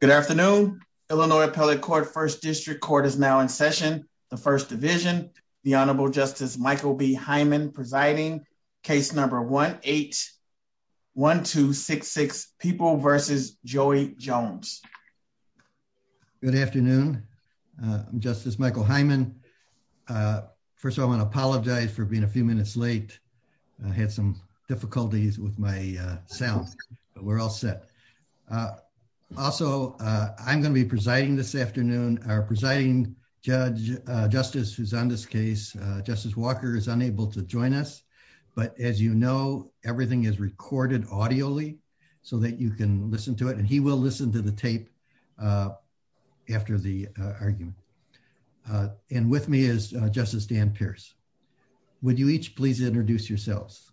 Good afternoon. Illinois Appellate Court First District Court is now in session. The First Division, the Honorable Justice Michael B. Hyman presiding. Case number 1-8-1266, People v. Joey Jones. Good afternoon. I'm Justice Michael Hyman. First, I want to apologize for being a few minutes late. I had some difficulties with my sound, but we're all set. Also, I'm going to be presiding this afternoon. Our presiding judge, Justice, who's on this case, Justice Walker, is unable to join us. But as you know, everything is recorded audioly so that you can listen to it. And he will listen to the tape after the argument. And with me is Justice Dan Pierce. Would you each please introduce yourselves?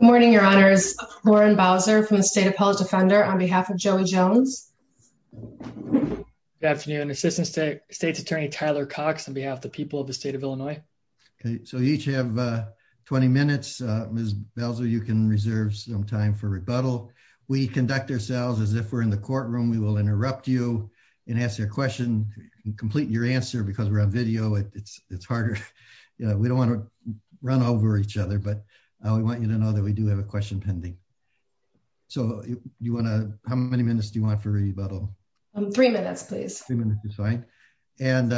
Good morning, Your Honors. Lauren Bowser from the State Appellate Defender on behalf of Joey Jones. Good afternoon. Assistant State's Attorney Tyler Cox on behalf of the people of the state of Illinois. Okay, so you each have 20 minutes. Ms. Bowser, you can reserve some time for rebuttal. We conduct ourselves as if we're in the courtroom. We will interrupt you and ask you a question and complete your answer because we're on video. It's harder. We don't want to run over each other, but we want you to know that we do have a question pending. So how many minutes do you want for rebuttal? Three minutes, please. Three minutes is fine. And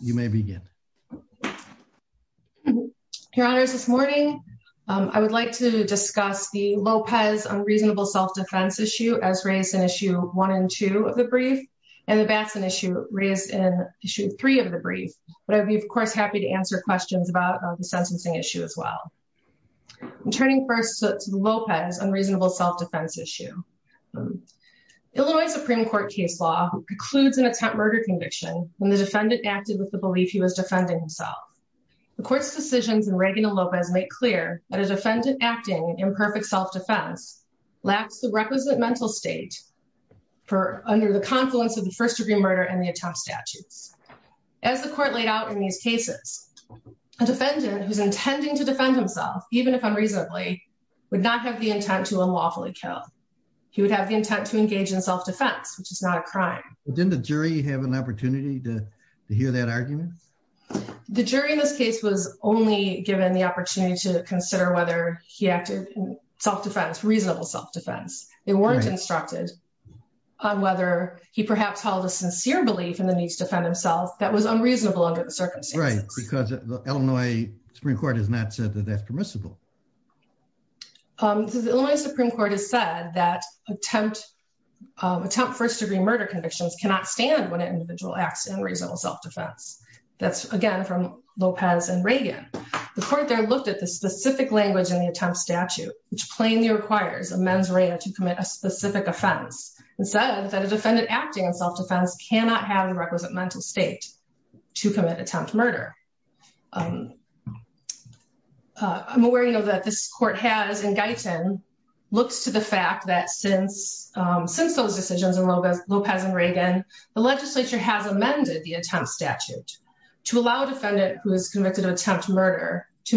you may begin. Your Honors, this morning, I would like to discuss the Lopez unreasonable self-defense issue as raised in issue one and two of the brief and the Batson issue raised in issue three of the brief. But I'd be, of course, happy to answer questions about the sentencing issue as well. I'm turning first to the Lopez unreasonable self-defense issue. Illinois Supreme Court case law precludes an attempt murder conviction when the defendant acted with the belief he was defending himself. The court's decisions in Reagan and Lopez make clear that a defendant acting in imperfect self-defense lacks the requisite mental state under the confluence of the first degree murder and the attempt statutes. As the court laid out in these cases, a defendant who's intending to defend himself, even if unreasonably, would not have the intent to unlawfully kill. He would have the intent to engage in self-defense, which is not a crime. Didn't the jury have an opportunity to hear that argument? The jury in this case was only given the opportunity to consider whether he acted self-defense, reasonable self-defense. They weren't instructed on whether he perhaps held a sincere belief in the need to defend himself that was unreasonable under the circumstances. Right, because the Illinois Supreme Court has not said that that's permissible. The Illinois Supreme Court has said that attempt first degree murder convictions cannot stand when an individual acts in reasonable self-defense. That's, again, from Lopez and Reagan. The court looked at the specific language in the attempt statute, which plainly requires a mens rea to commit a specific offense and said that a defendant acting in self-defense cannot have the requisite mental state to commit attempt murder. I'm aware that this court has in Guyton looks to the fact that since those decisions in Lopez and Reagan, the legislature has amended the to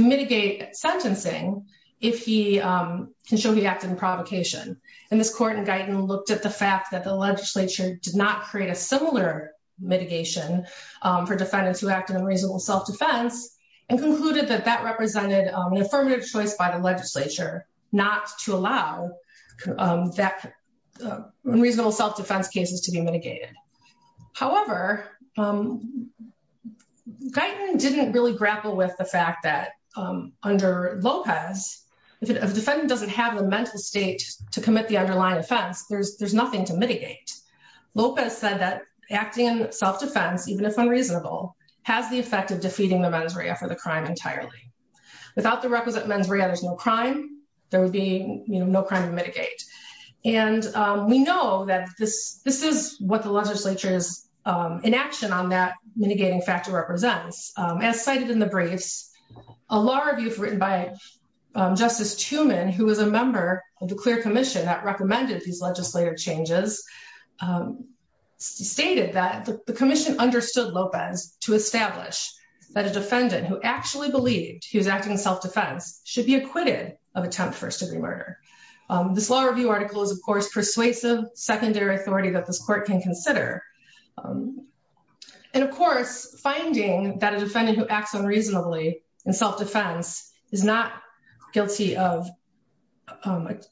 mitigate sentencing if he can show he acted in provocation. And this court in Guyton looked at the fact that the legislature did not create a similar mitigation for defendants who acted in reasonable self-defense and concluded that that represented an affirmative choice by the legislature not to allow that unreasonable self-defense cases to be mitigated. However, Guyton didn't really grapple with the fact that under Lopez, if a defendant doesn't have a mental state to commit the underlying offense, there's nothing to mitigate. Lopez said that acting in self-defense, even if unreasonable, has the effect of defeating the mens rea for the crime entirely. Without the requisite mens rea, there's no crime. There would be no crime to mitigate. And we know that this is what the legislature's inaction on that mitigating factor represents. As cited in the briefs, a law review written by Justice Tooman, who was a member of the clear commission that recommended these legislative changes, stated that the commission understood Lopez to establish that a defendant who actually believed he was acting in self-defense should be acquitted of persuasive secondary authority that this court can consider. And of course, finding that a defendant who acts unreasonably in self-defense is not guilty of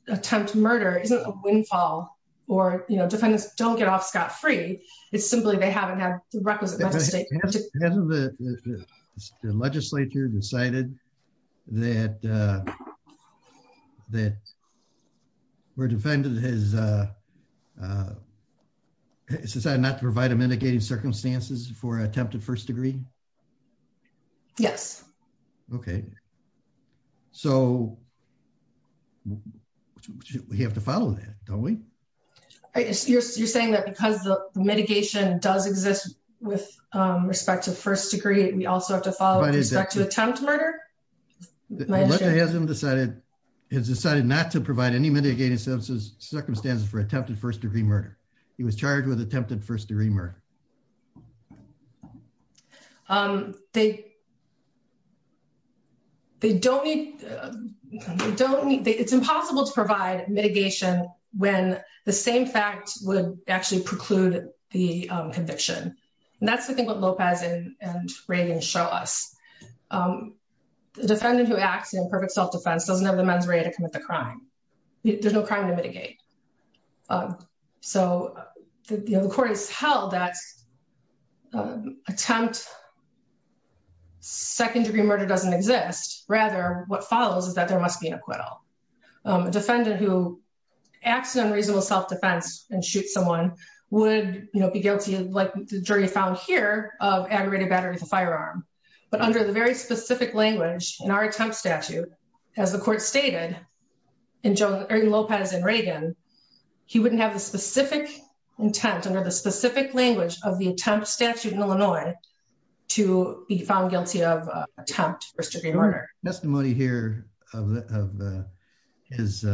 attempt murder isn't a windfall or defendants don't get off scot-free. It's simply they haven't the requisite state. Has the legislature decided that where defendant has decided not to provide a mitigating circumstances for attempted first degree? Yes. Okay. So we have to follow that, don't we? You're saying that because the mitigation does exist with respect to first degree. We also have to follow it back to attempt murder. Has decided not to provide any mitigating circumstances for attempted first degree murder. He was charged with attempted first degree murder. They don't need, they don't need, it's impossible to provide mitigation when the same fact would actually preclude the conviction. And that's the thing about Lopez and Reagan show us. The defendant who acts in perfect self-defense doesn't have the men's right to commit the crime. There's no crime to mitigate. So the court has held that attempt second degree murder doesn't rather what follows is that there must be an acquittal. A defendant who acts unreasonable self-defense and shoot someone would be guilty like the jury found here of aggravated battery of a firearm. But under the very specific language in our attempt statute, as the court stated in Joe Lopez and Reagan, he wouldn't have the specific intent under the specific language of attempt statute in Illinois to be found guilty of attempt first degree murder. Testimony here of his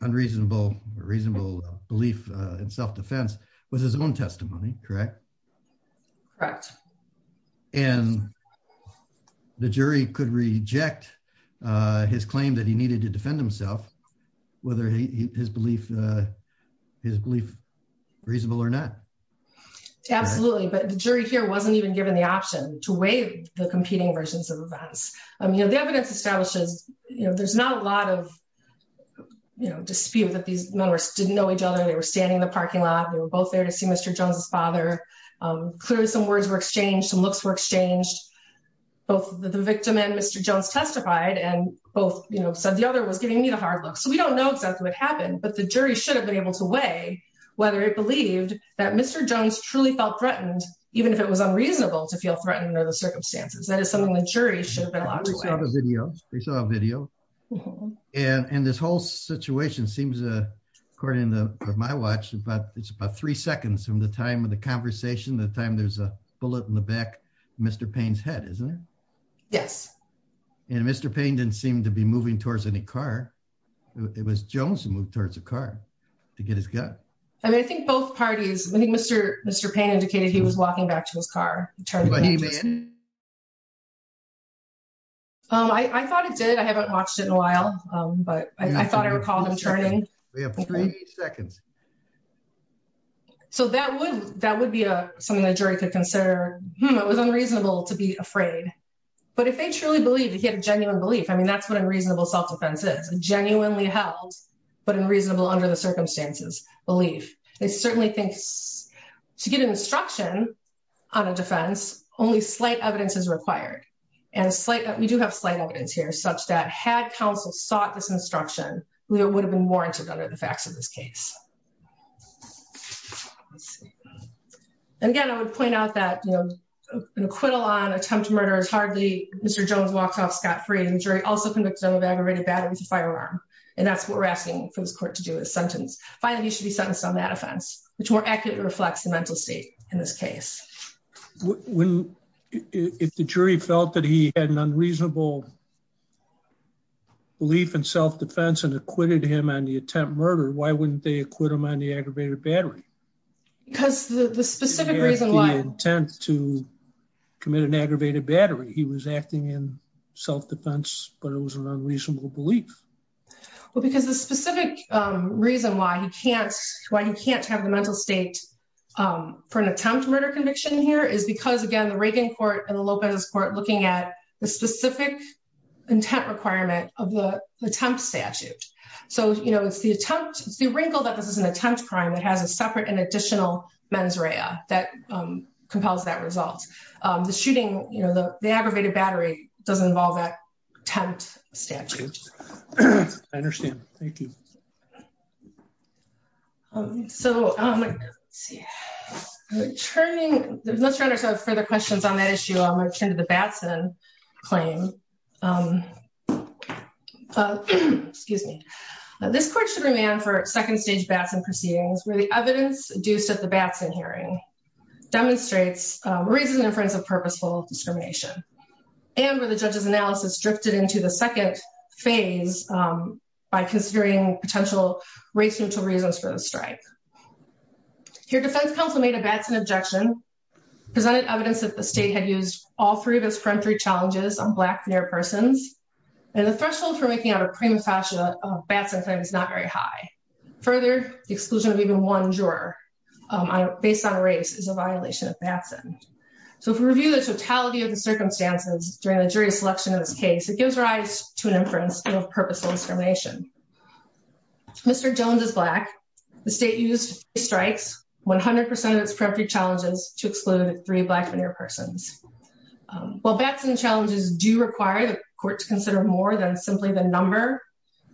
unreasonable, reasonable belief in self-defense was his own testimony, correct? Correct. And the jury could reject his claim that he needed to defend himself, whether his belief is reasonable or not. Absolutely. But the jury here wasn't even given the option to weigh the competing versions of events. I mean, the evidence establishes, there's not a lot of dispute that these numbers didn't know each other. They were standing in the parking lot. They were both there to see Mr. Jones's father. Clearly some words were exchanged and looks were exchanged. Both the victim and Mr. Jones testified and both said the other was giving me the hard look. So we don't know exactly what happened, but the jury should have been able to weigh whether it believed that Mr. Jones truly felt threatened, even if it was unreasonable to feel threatened under the circumstances. That is something the jury should have been allowed to weigh. We saw a video. And this whole situation seems, according to my watch, it's about three seconds from the time of the conversation, the time there's a bullet in the back of Mr. Payne's head, isn't it? Yes. And Mr. Payne didn't seem to be moving towards any car. It was Jones who moved towards the car to get his gun. I mean, I think both parties, I think Mr. Payne indicated he was walking back to his car. I thought it did. I haven't watched it in a while, but I thought I recalled him turning. We have three seconds. So that would be something the jury could consider. It was unreasonable to be afraid. But if they truly believed he had a genuine belief, I mean, that's what a reasonable self-defense is. Genuinely held, but unreasonable under the circumstances belief. They certainly think to get an instruction on a defense, only slight evidence is required. And we do have slight evidence here such that had counsel sought this instruction, it would have been warranted under the facts of this case. And again, I would point out that, you know, an acquittal on attempt to murder is hardly Mr. Jones walks off scot-free. And the jury also convicted him of aggravated battery with a firearm. And that's what we're asking for this court to do is sentence. Finally, you should be sentenced on that offense, which more accurately reflects the mental state in this case. If the jury felt that he had an unreasonable belief in self-defense and acquitted him on the attempt murder, why wouldn't they acquit him on the aggravated battery? Because the specific reason why intent to commit an aggravated battery, he was acting in self-defense, but it was an unreasonable belief. Well, because the specific reason why he can't, why he can't have the mental state for an attempt murder conviction here is because again, the Reagan court and the Lopez court the specific intent requirement of the temp statute. So, you know, it's the attempt, it's the wrinkle that this is an attempt crime that has a separate and additional mens rea that compels that result. The shooting, you know, the aggravated battery doesn't involve that tent statute. I understand. Thank you. Um, so, um, let's see, returning, let's try to sort of further questions on that issue. I'm going to turn to the Batson claim. Um, excuse me, this court should remain for second stage Batson proceedings where the evidence induced at the Batson hearing demonstrates a reasonable inference of purposeful discrimination and where the judge's analysis drifted into the second phase, um, by considering potential race neutral reasons for the strike. Here, defense counsel made a Batson objection, presented evidence that the state had used all three of its peremptory challenges on black near persons. And the threshold for making out a prima facie Batson claim is not very high. Further, the exclusion of even one juror based on race is a violation of Batson. So if we review the totality of the circumstances during the jury selection in this case, it gives rise to an inference of purposeful discrimination. Mr. Jones is black. The state used strikes 100% of its peremptory challenges to exclude three black men or persons. Um, well, Batson challenges do require the court to consider more than simply the number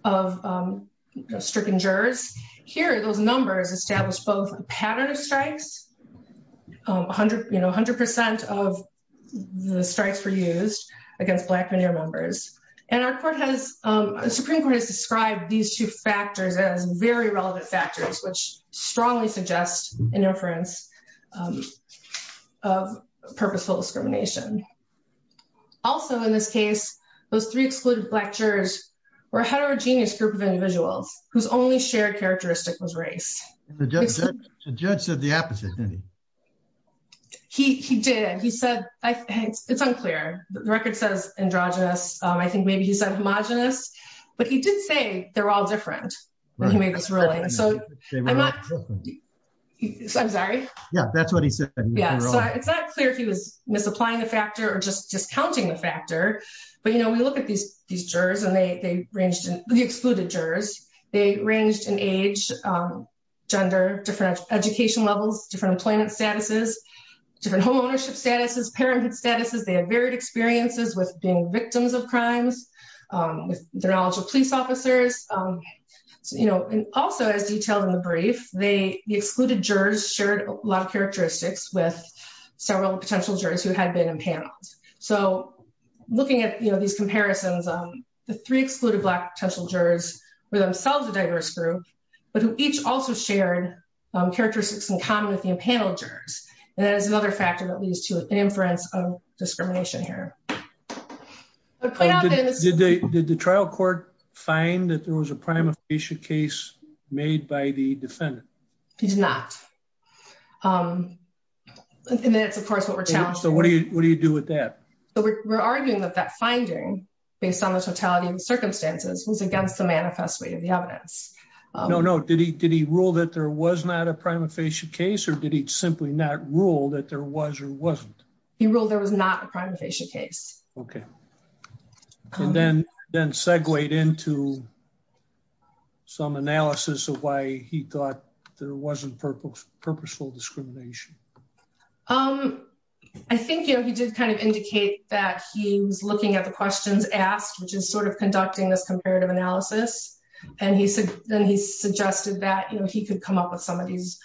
of, um, stricken jurors here. Those numbers establish both pattern of strikes, um, 100, you know, 100% of the strikes were used against black men or members. And our court has, um, the Supreme Court has described these two factors as very relevant factors, which strongly suggest an inference, um, of purposeful discrimination. Also in this case, those three excluded black jurors were a heterogeneous group of individuals whose shared characteristic was race. The judge said the opposite, didn't he? He, he did. He said, I think it's unclear. The record says androgynous. Um, I think maybe he said homogenous, but he did say they're all different when he made this ruling. So I'm not, I'm sorry. Yeah, that's what he said. Yeah. So it's not clear if he was misapplying the factor or just discounting the factor, but you know, we look at these, these jurors and they, they ranged in the excluded jurors. They ranged in age, um, gender, different education levels, different employment statuses, different homeownership statuses, parenthood statuses. They have varied experiences with being victims of crimes, um, with their knowledge of police officers. Um, so, you know, and also as detailed in the brief, they, the excluded jurors shared a lot of characteristics with several potential jurors who had been in panels. So looking at, you know, these comparisons, um, the three excluded black potential jurors were themselves a diverse group, but who each also shared, um, characteristics in common with the panel jurors. And that is another factor that leads to an inference of discrimination here. Did they, did the trial court find that there was a prima facie case made by the defendant? He's not. Um, and that's of course what we're challenged. So what do you, what do you do with that? So we're arguing that that finding based on the totality of the circumstances was against the manifest weight of the evidence. No, no. Did he, did he rule that there was not a prima facie case or did he simply not rule that there was or wasn't. He ruled there was not a prima facie case. Okay. And then, then segue into some analysis of why he thought there wasn't purposeful discrimination. Um, I think, you know, he did kind of indicate that he was looking at the questions asked, which is sort of conducting this comparative analysis. And he said, then he suggested that, you know, he could come up with some of these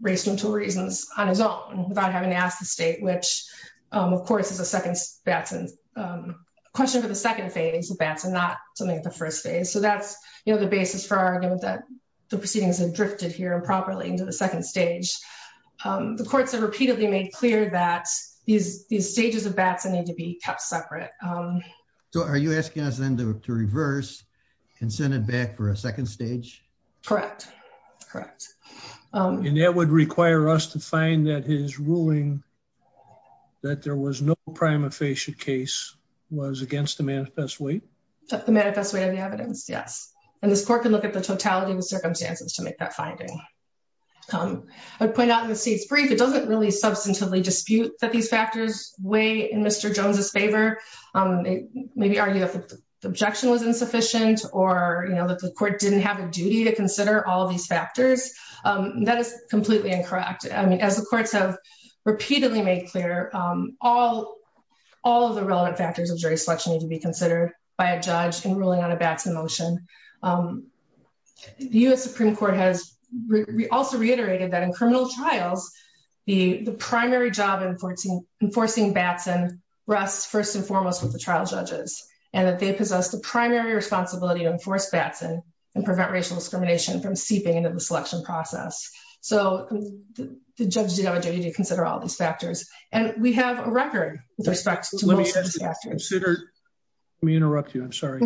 race mental reasons on his own without having to ask the state, which, um, of course is a second Batson, um, question for the second phase of Batson, not something at the first phase. So that's, you know, the basis for arguing that the proceedings have drifted here and properly into the second stage. Um, the courts have repeatedly made clear that these, these stages of Batson need to be kept separate. Um, so are you asking us then to reverse and send it back for a second stage? Correct. Correct. Um, and that would require us to find that his ruling that there was no prima facie case was against the manifest way, the manifest way of the evidence. Yes. And this court can look at the totality of the circumstances to make that finding. Um, I would point out in the seat's brief, it doesn't really substantively dispute that these factors weigh in Mr. Jones's favor. Um, maybe argue that the objection was insufficient or, you know, that the court didn't have a duty to consider all of these factors. Um, that is completely incorrect. I mean, as the courts have repeatedly made clear, um, all, all of the relevant factors of jury selection need to be considered by a judge in ruling on a Batson motion. Um, the U.S. Supreme court has re also reiterated that in criminal trials, the primary job in 14 enforcing Batson rests first and foremost with the trial judges and that they possess the primary responsibility to enforce Batson and prevent racial discrimination from seeping into the selection process. So the judge did have a factors and we have a record with respect to consider. Let me interrupt you. I'm sorry.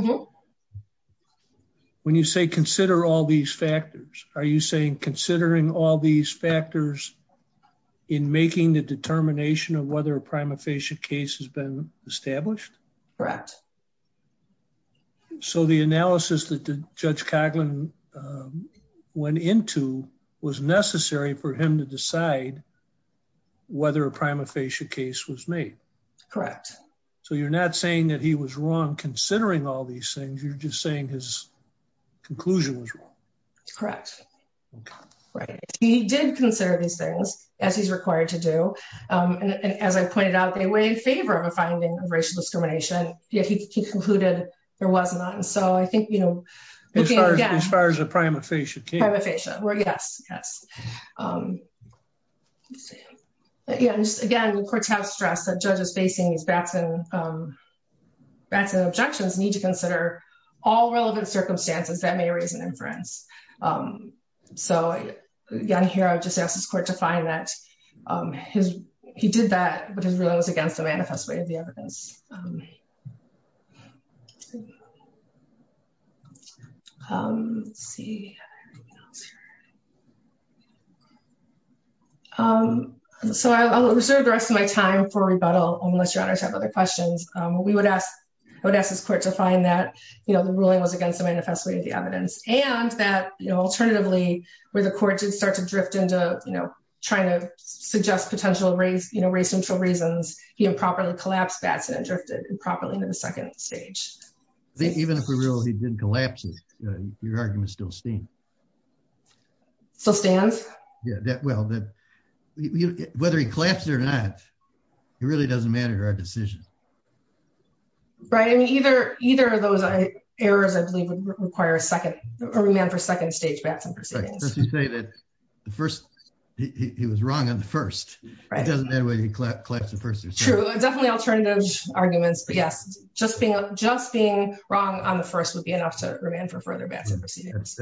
When you say consider all these factors, are you saying considering all these factors in making the determination of whether a prima facie case has been established? Correct. So the analysis that the judge Coughlin, um, went into was necessary for him to decide whether a prima facie case was made. Correct. So you're not saying that he was wrong considering all these things. You're just saying his conclusion was correct. Right. He did consider these things as he's required to do. Um, and as I pointed out, they were in favor of a finding of racial discrimination. Yet he concluded there was not. And so I think, you know, as far as you know, again, the courts have stressed that judges facing these Batson, um, Batson objections need to consider all relevant circumstances that may raise an inference. Um, so again, here, I just asked his court to find that, um, his he did that, but his ruling was against the manifest way of the evidence. Um, um, see, yeah. Um, so I'll reserve the rest of my time for rebuttal unless your honors have other questions. Um, we would ask, I would ask this court to find that, you know, the ruling was against the manifest way of the evidence and that, you know, alternatively where the court did start to drift into, you know, trying to suggest potential race, you know, race and for reasons he improperly collapsed Batson and drifted improperly into the second stage. Even if we're real, he didn't collapse it. Uh, your argument still steam still stands. Yeah. That well, that whether he collapsed or not, it really doesn't matter to our decision. Right. I mean, either, either of those errors, I believe would require a second, a remand for second stage Batson proceedings. Let's just say that the first, he was wrong on the first, it doesn't matter whether he collapsed definitely alternative arguments, but yes, just being, just being wrong on the first would be enough to remain for further Batson proceedings.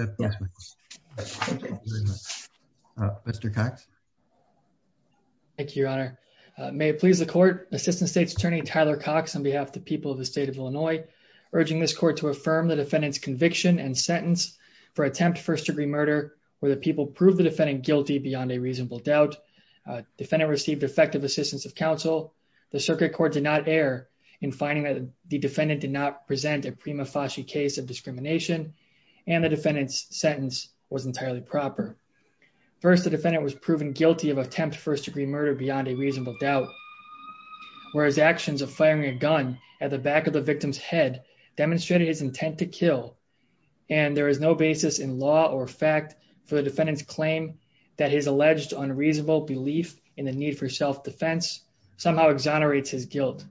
Mr. Cox. Thank you, your honor. May it please the court assistant state's attorney, Tyler Cox on behalf of the people of the state of Illinois, urging this court to affirm the defendant's conviction and sentence for attempt first degree murder where the people prove the defendant guilty beyond a reasonable doubt. Defendant received effective assistance of counsel. The circuit court did not air in finding that the defendant did not present a prima facie case of discrimination. And the defendant's sentence was entirely proper. First, the defendant was proven guilty of attempt first degree murder beyond a reasonable doubt. Whereas actions of firing a gun at the back of the victim's head demonstrated his intent to kill. And there is no basis in law or fact for the defendant's claim that his alleged unreasonable belief in the need for self-defense somehow exonerates his guilt.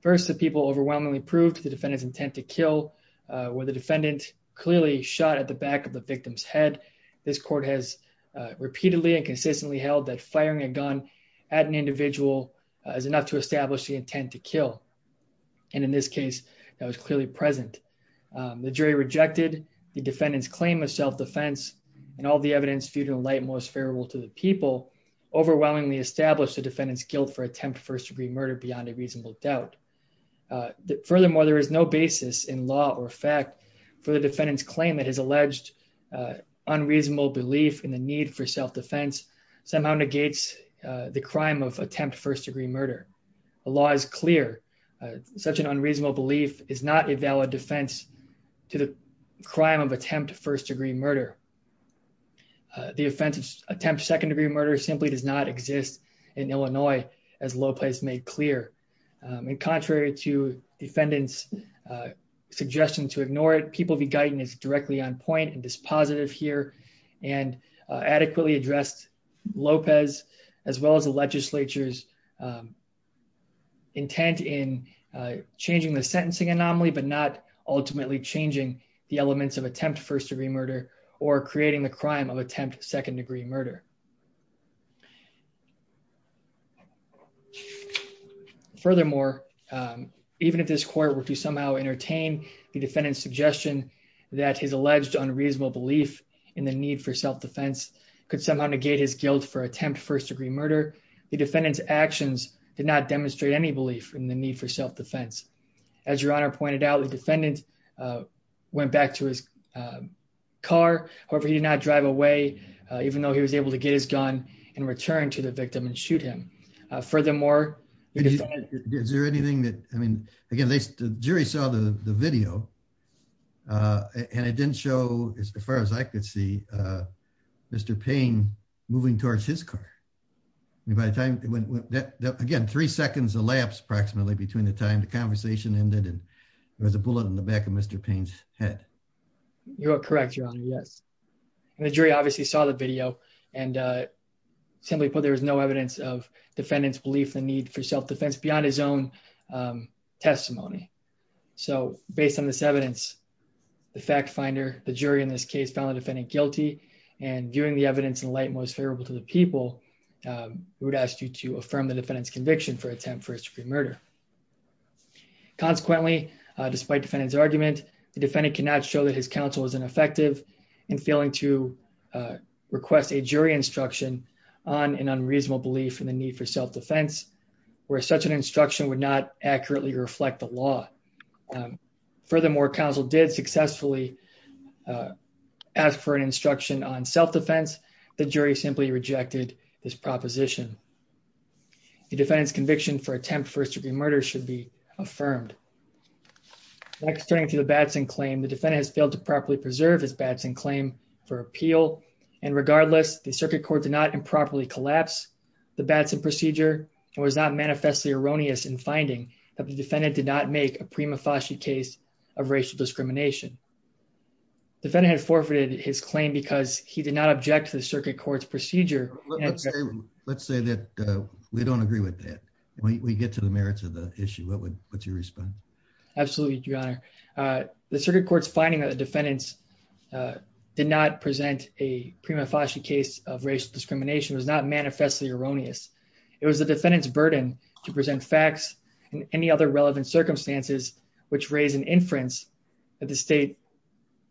First, the people overwhelmingly proved the defendant's intent to kill where the defendant clearly shot at the back of the victim's head. This court has repeatedly and consistently held that firing a gun at an individual is enough to establish the intent to kill. And in this case, that was clearly present. The jury rejected the defendant's claim of self-defense and all the light most favorable to the people overwhelmingly established the defendant's guilt for attempt first degree murder beyond a reasonable doubt. Furthermore, there is no basis in law or fact for the defendant's claim that his alleged unreasonable belief in the need for self-defense somehow negates the crime of attempt first degree murder. The law is clear. Such an unreasonable belief is not a valid defense to the crime of attempt first degree murder. The offense of attempt second degree murder simply does not exist in Illinois, as Lopez made clear. And contrary to defendant's suggestion to ignore it, People v. Guyton is directly on point and dispositive here and adequately addressed Lopez as well as the legislature's intent in changing the sentencing anomaly, but not ultimately changing the elements of attempt first degree murder or creating the crime of attempt second degree murder. Furthermore, even if this court were to somehow entertain the defendant's suggestion that his alleged unreasonable belief in the need for self-defense could somehow negate his guilt for attempt first degree murder, the defendant's actions did not demonstrate any belief in the for self-defense. As your honor pointed out, the defendant went back to his car. However, he did not drive away even though he was able to get his gun and return to the victim and shoot him. Furthermore, is there anything that I mean, again, the jury saw the video and it didn't show as far as I could see Mr. Payne moving towards his car. I mean, by the time it went, again, three seconds elapsed approximately between the time the conversation ended and there was a bullet in the back of Mr. Payne's head. You're correct, your honor. Yes. And the jury obviously saw the video and simply put, there was no evidence of defendant's belief in the need for self-defense beyond his own testimony. So based on this evidence, the fact finder, the jury in this case found the defendant guilty and viewing the evidence in light most favorable to the people, we would ask you to affirm the defendant's conviction for attempt for a supreme murder. Consequently, despite defendant's argument, the defendant cannot show that his counsel is ineffective in failing to request a jury instruction on an unreasonable belief in the need for self-defense where such an instruction would not accurately reflect the law. Furthermore, counsel did successfully ask for an instruction on self-defense. The jury simply rejected this proposition. The defendant's conviction for attempt first degree murder should be affirmed. Next turning to the Batson claim, the defendant has failed to properly preserve his Batson claim for appeal. And regardless, the circuit court did not improperly collapse the Batson procedure and was not manifestly erroneous in finding that the defendant did not make a prima facie case of racial discrimination. Defendant had forfeited his claim because he did not object to the circuit court's procedure. Let's say that we don't agree with that. We get to the merits of the issue. What's your response? Absolutely, your honor. The circuit court's finding that the defendants did not present a prima facie case of racial discrimination was not manifestly erroneous. It was the defendant's burden to present facts and any other relevant circumstances which raise an inference that the state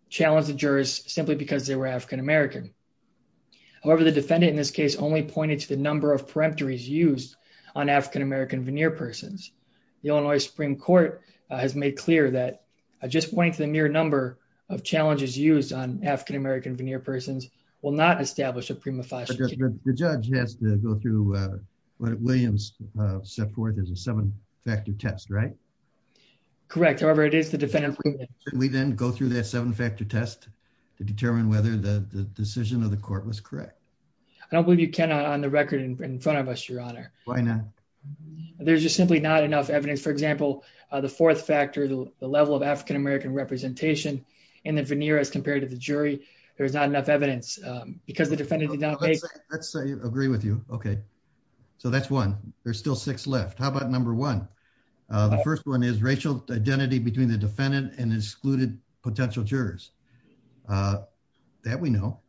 challenged the jurors simply because they were African-American. However, the defendant in this case only pointed to the number of peremptories used on African-American veneer persons. The Illinois Supreme Court has made clear that just pointing to the mere number of challenges used on African-American veneer persons will not establish a prima facie. The judge has to go through what Williams set forth as a seven factor test, right? Correct. However, it is the defendant. We then go through that seven factor test to determine whether the decision of the court was correct. I don't believe you can on the record in front of us, your honor. Why not? There's just simply not enough evidence. For example, the fourth factor, the level of African-American representation in the veneer as compared to the jury. There's not enough evidence because the defendant did not. Let's say you agree with you. Okay, so that's one. There's still six left. How about number one? The first one is racial identity between the defendant and excluded potential jurors. That we know.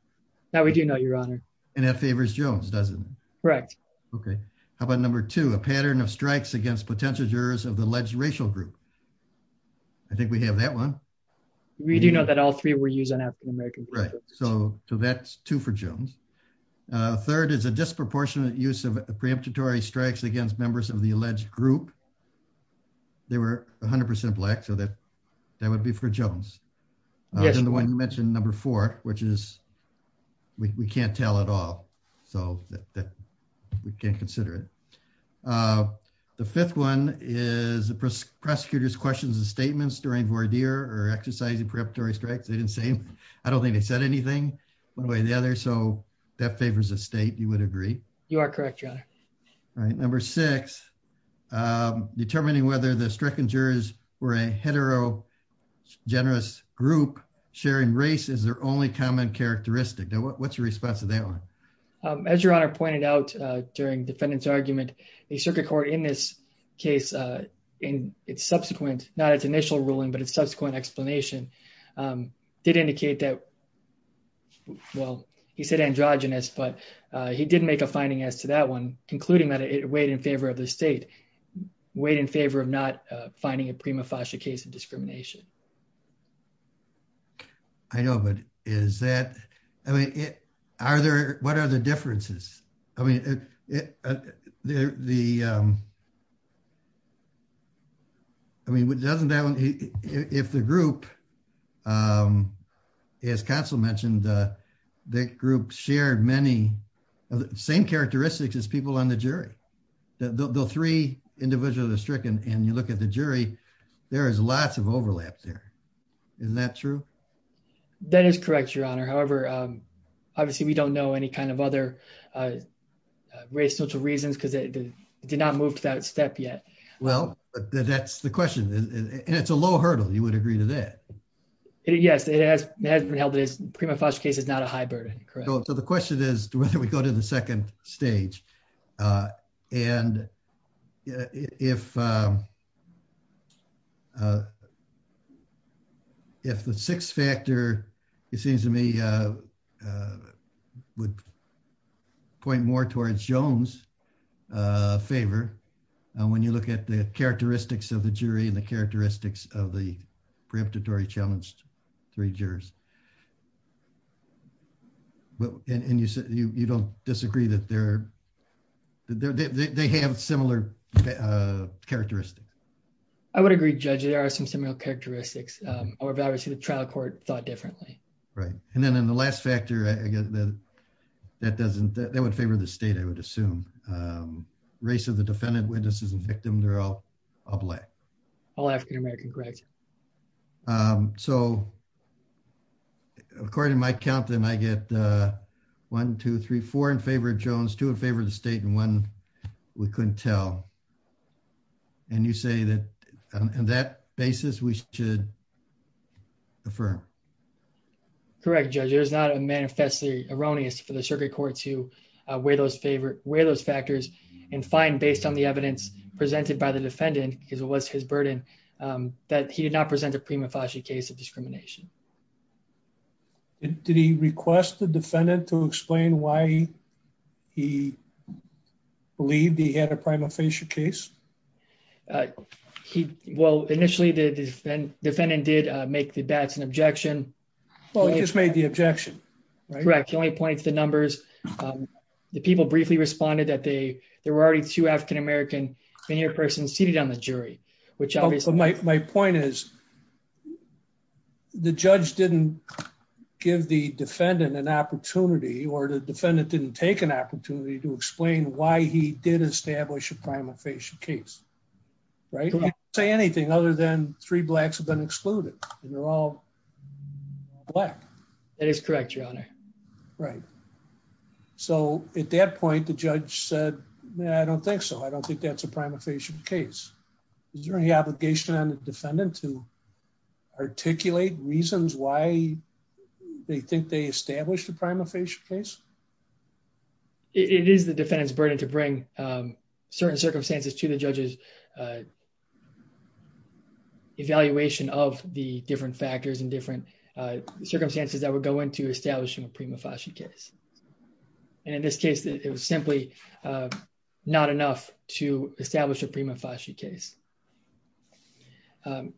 That we do know, your honor. And that favors Jones, doesn't it? Correct. Okay, how about number two? A pattern of strikes against potential jurors of the alleged racial group. I think we have that one. We do know that all three were used on African-American. Right, so that's two for Jones. Third is a disproportionate use of preemptatory strikes against members of the alleged group. They were 100% black, so that would be for Jones. Yes. And the one you mentioned, number four, which is we can't tell at all, so that we can't consider it. The fifth one is the prosecutor's questions and statements during voir dire or exercising preemptory strikes. They didn't say anything. I don't think they said anything one way or the other, so that favors the state. You are correct, your honor. All right, number six. Determining whether the stricken jurors were a heterogenerous group sharing race is their only common characteristic. Now, what's your response to that one? As your honor pointed out during defendant's argument, the circuit court in this case, in its subsequent, not its initial ruling, but its subsequent explanation, did indicate that, well, he said androgynous, but he did make a finding as to that one, concluding that it weighed in favor of the state, weighed in favor of not finding a prima facie case of discrimination. I know, but is that, I mean, are there, what are the differences? I mean, the, I mean, doesn't that one, if the group, as counsel mentioned, that group shared many of the same characteristics as people on the jury, the three individuals are stricken, and you look at the jury, there is lots of overlap there. Is that true? That is correct, your honor. However, obviously we don't know any kind of other race, social reasons, because it did not move to that step yet. Well, that's the question, and it's a low hurdle. You would agree to that? Yes, it has been held that this prima facie case is not a high burden, correct? So the question is whether we go to the second stage, and if the sixth factor, it seems to me, would point more towards Jones' favor when you look at the characteristics of the jury and the characteristics of the preemptatory challenged three jurors. But, and you don't disagree that they're, they have similar characteristics? I would agree, Judge, there are some similar characteristics. However, obviously the trial court thought differently. Right, and then in the last factor, I guess that doesn't, that would favor the state, I would assume. Race of the defendant, witnesses, and victim, they're all black. All African American, correct? So according to my counting, I get one, two, three, four in favor of Jones, two in favor of the state, and one we couldn't tell. And you say that on that basis we should affirm? Correct, Judge, it is not a manifestly erroneous for the circuit court to weigh those factors and find, based on the evidence presented by the defendant, because it was his burden, that he did not present a prima facie case of discrimination. And did he request the defendant to explain why he believed he had a prima facie case? He, well, initially the defendant did make the bats an objection. Well, he just made the objection, right? Correct, he only pointed to the numbers. The people briefly responded that they, there were already two African American veneer persons seated on the jury, which obviously... My point is, the judge didn't give the defendant an opportunity, or the defendant didn't take an opportunity to explain why he did establish a prima facie case, right? He didn't say anything other than three blacks have been excluded, and they're all black. That is correct, your honor. Right. So at that point, the judge said, I don't think so. I don't think that's a prima facie case. Is there any obligation on the defendant to articulate reasons why they think they established a prima facie case? It is the defendant's burden to bring certain circumstances to the judge's evaluation of the different factors and different circumstances that would go into establishing a prima facie case. And in this case, it was simply not enough to establish a prima facie case.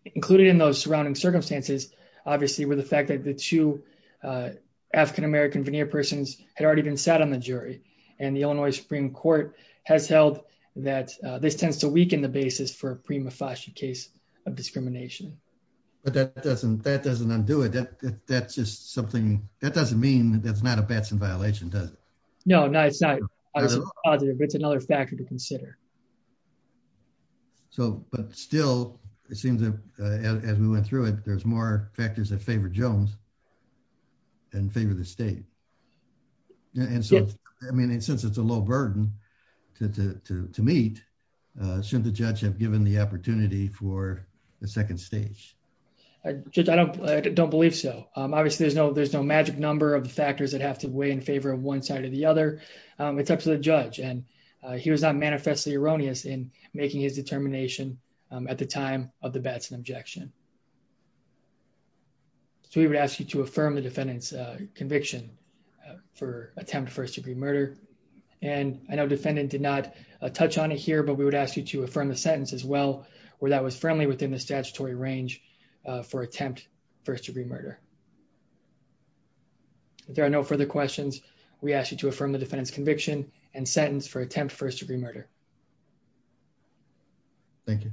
Included in those surrounding circumstances, obviously, were the fact that the two African American veneer persons had already been sat on the jury, and the Illinois Supreme Court has held that this tends to weaken the basis for a prima facie case of discrimination. But that doesn't undo it. That doesn't mean that's not a Batson violation, does it? No, no, it's not. It's another factor to consider. But still, it seems as we went through it, there's more factors that favor Jones than favor the state. And so, I mean, since it's a low burden to meet, shouldn't the judge have given the opportunity for the second stage? I don't believe so. Obviously, there's no magic number of factors that have to weigh in favor of one side or the other. It's up to the judge. And he was not manifestly erroneous in making his determination at the time of the Batson objection. So we would ask you to affirm the defendant's conviction for attempt to first degree murder. And I know defendant did not touch on it here, but we would ask you to affirm the sentence as well, where that was firmly within the statutory range for attempt first degree murder. If there are no further questions, we ask you to affirm the defendant's conviction and sentence for attempt first degree murder. Thank you.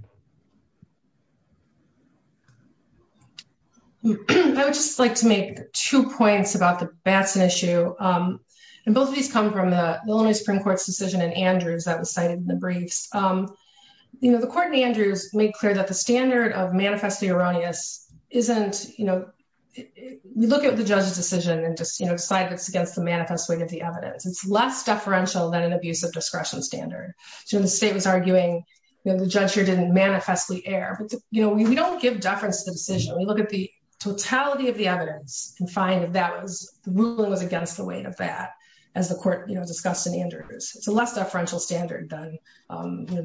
I would just like to make two points about the Batson issue. And both of these come from the Illinois Supreme Court's decision in Andrews that was cited in the briefs. The court in Andrews made clear that the standard of manifestly erroneous isn't, we look at the judge's decision and decide it's against the manifest weight of the evidence. It's less deferential than an abuse of discretion standard. So when the state was arguing, the judge here didn't manifestly err. We don't give deference to the decision. We look at the totality of the evidence and find that the ruling was against the weight of that, as the court discussed in Andrews. It's a less deferential standard than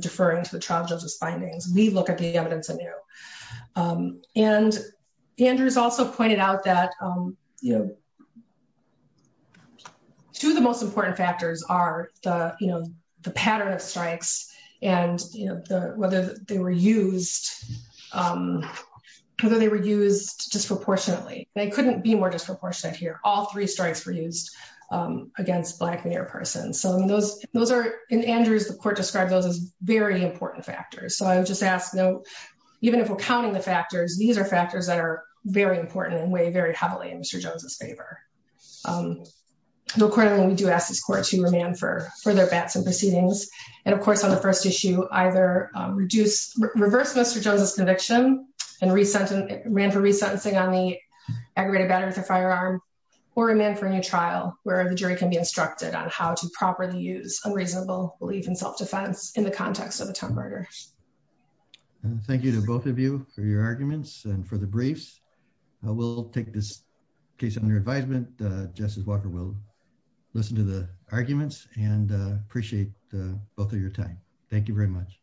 deferring to the trial judge's findings. We look at the evidence anew. And Andrews also pointed out that two of the most important factors are the pattern of strikes and whether they were used disproportionately. They couldn't be more disproportionate here. All three strikes were used against a Black mayor person. So those are, in Andrews, the court described those as very important factors. So I would just ask, even if we're counting the factors, these are factors that are very important and weigh very heavily in Mr. Jones's favor. Accordingly, we do ask this court to remand for further Batson proceedings. And of course, on the first issue, either reverse Mr. Jones's conviction and ran for resentencing on the aggravated battery with a firearm, or remand for a new trial where the jury can be instructed on how to properly use unreasonable belief in self-defense in the context of a term murder. Thank you to both of you for your arguments and for the briefs. We'll take this case under advisement. Justice Walker will listen to the arguments and appreciate both of your time. Thank you very much.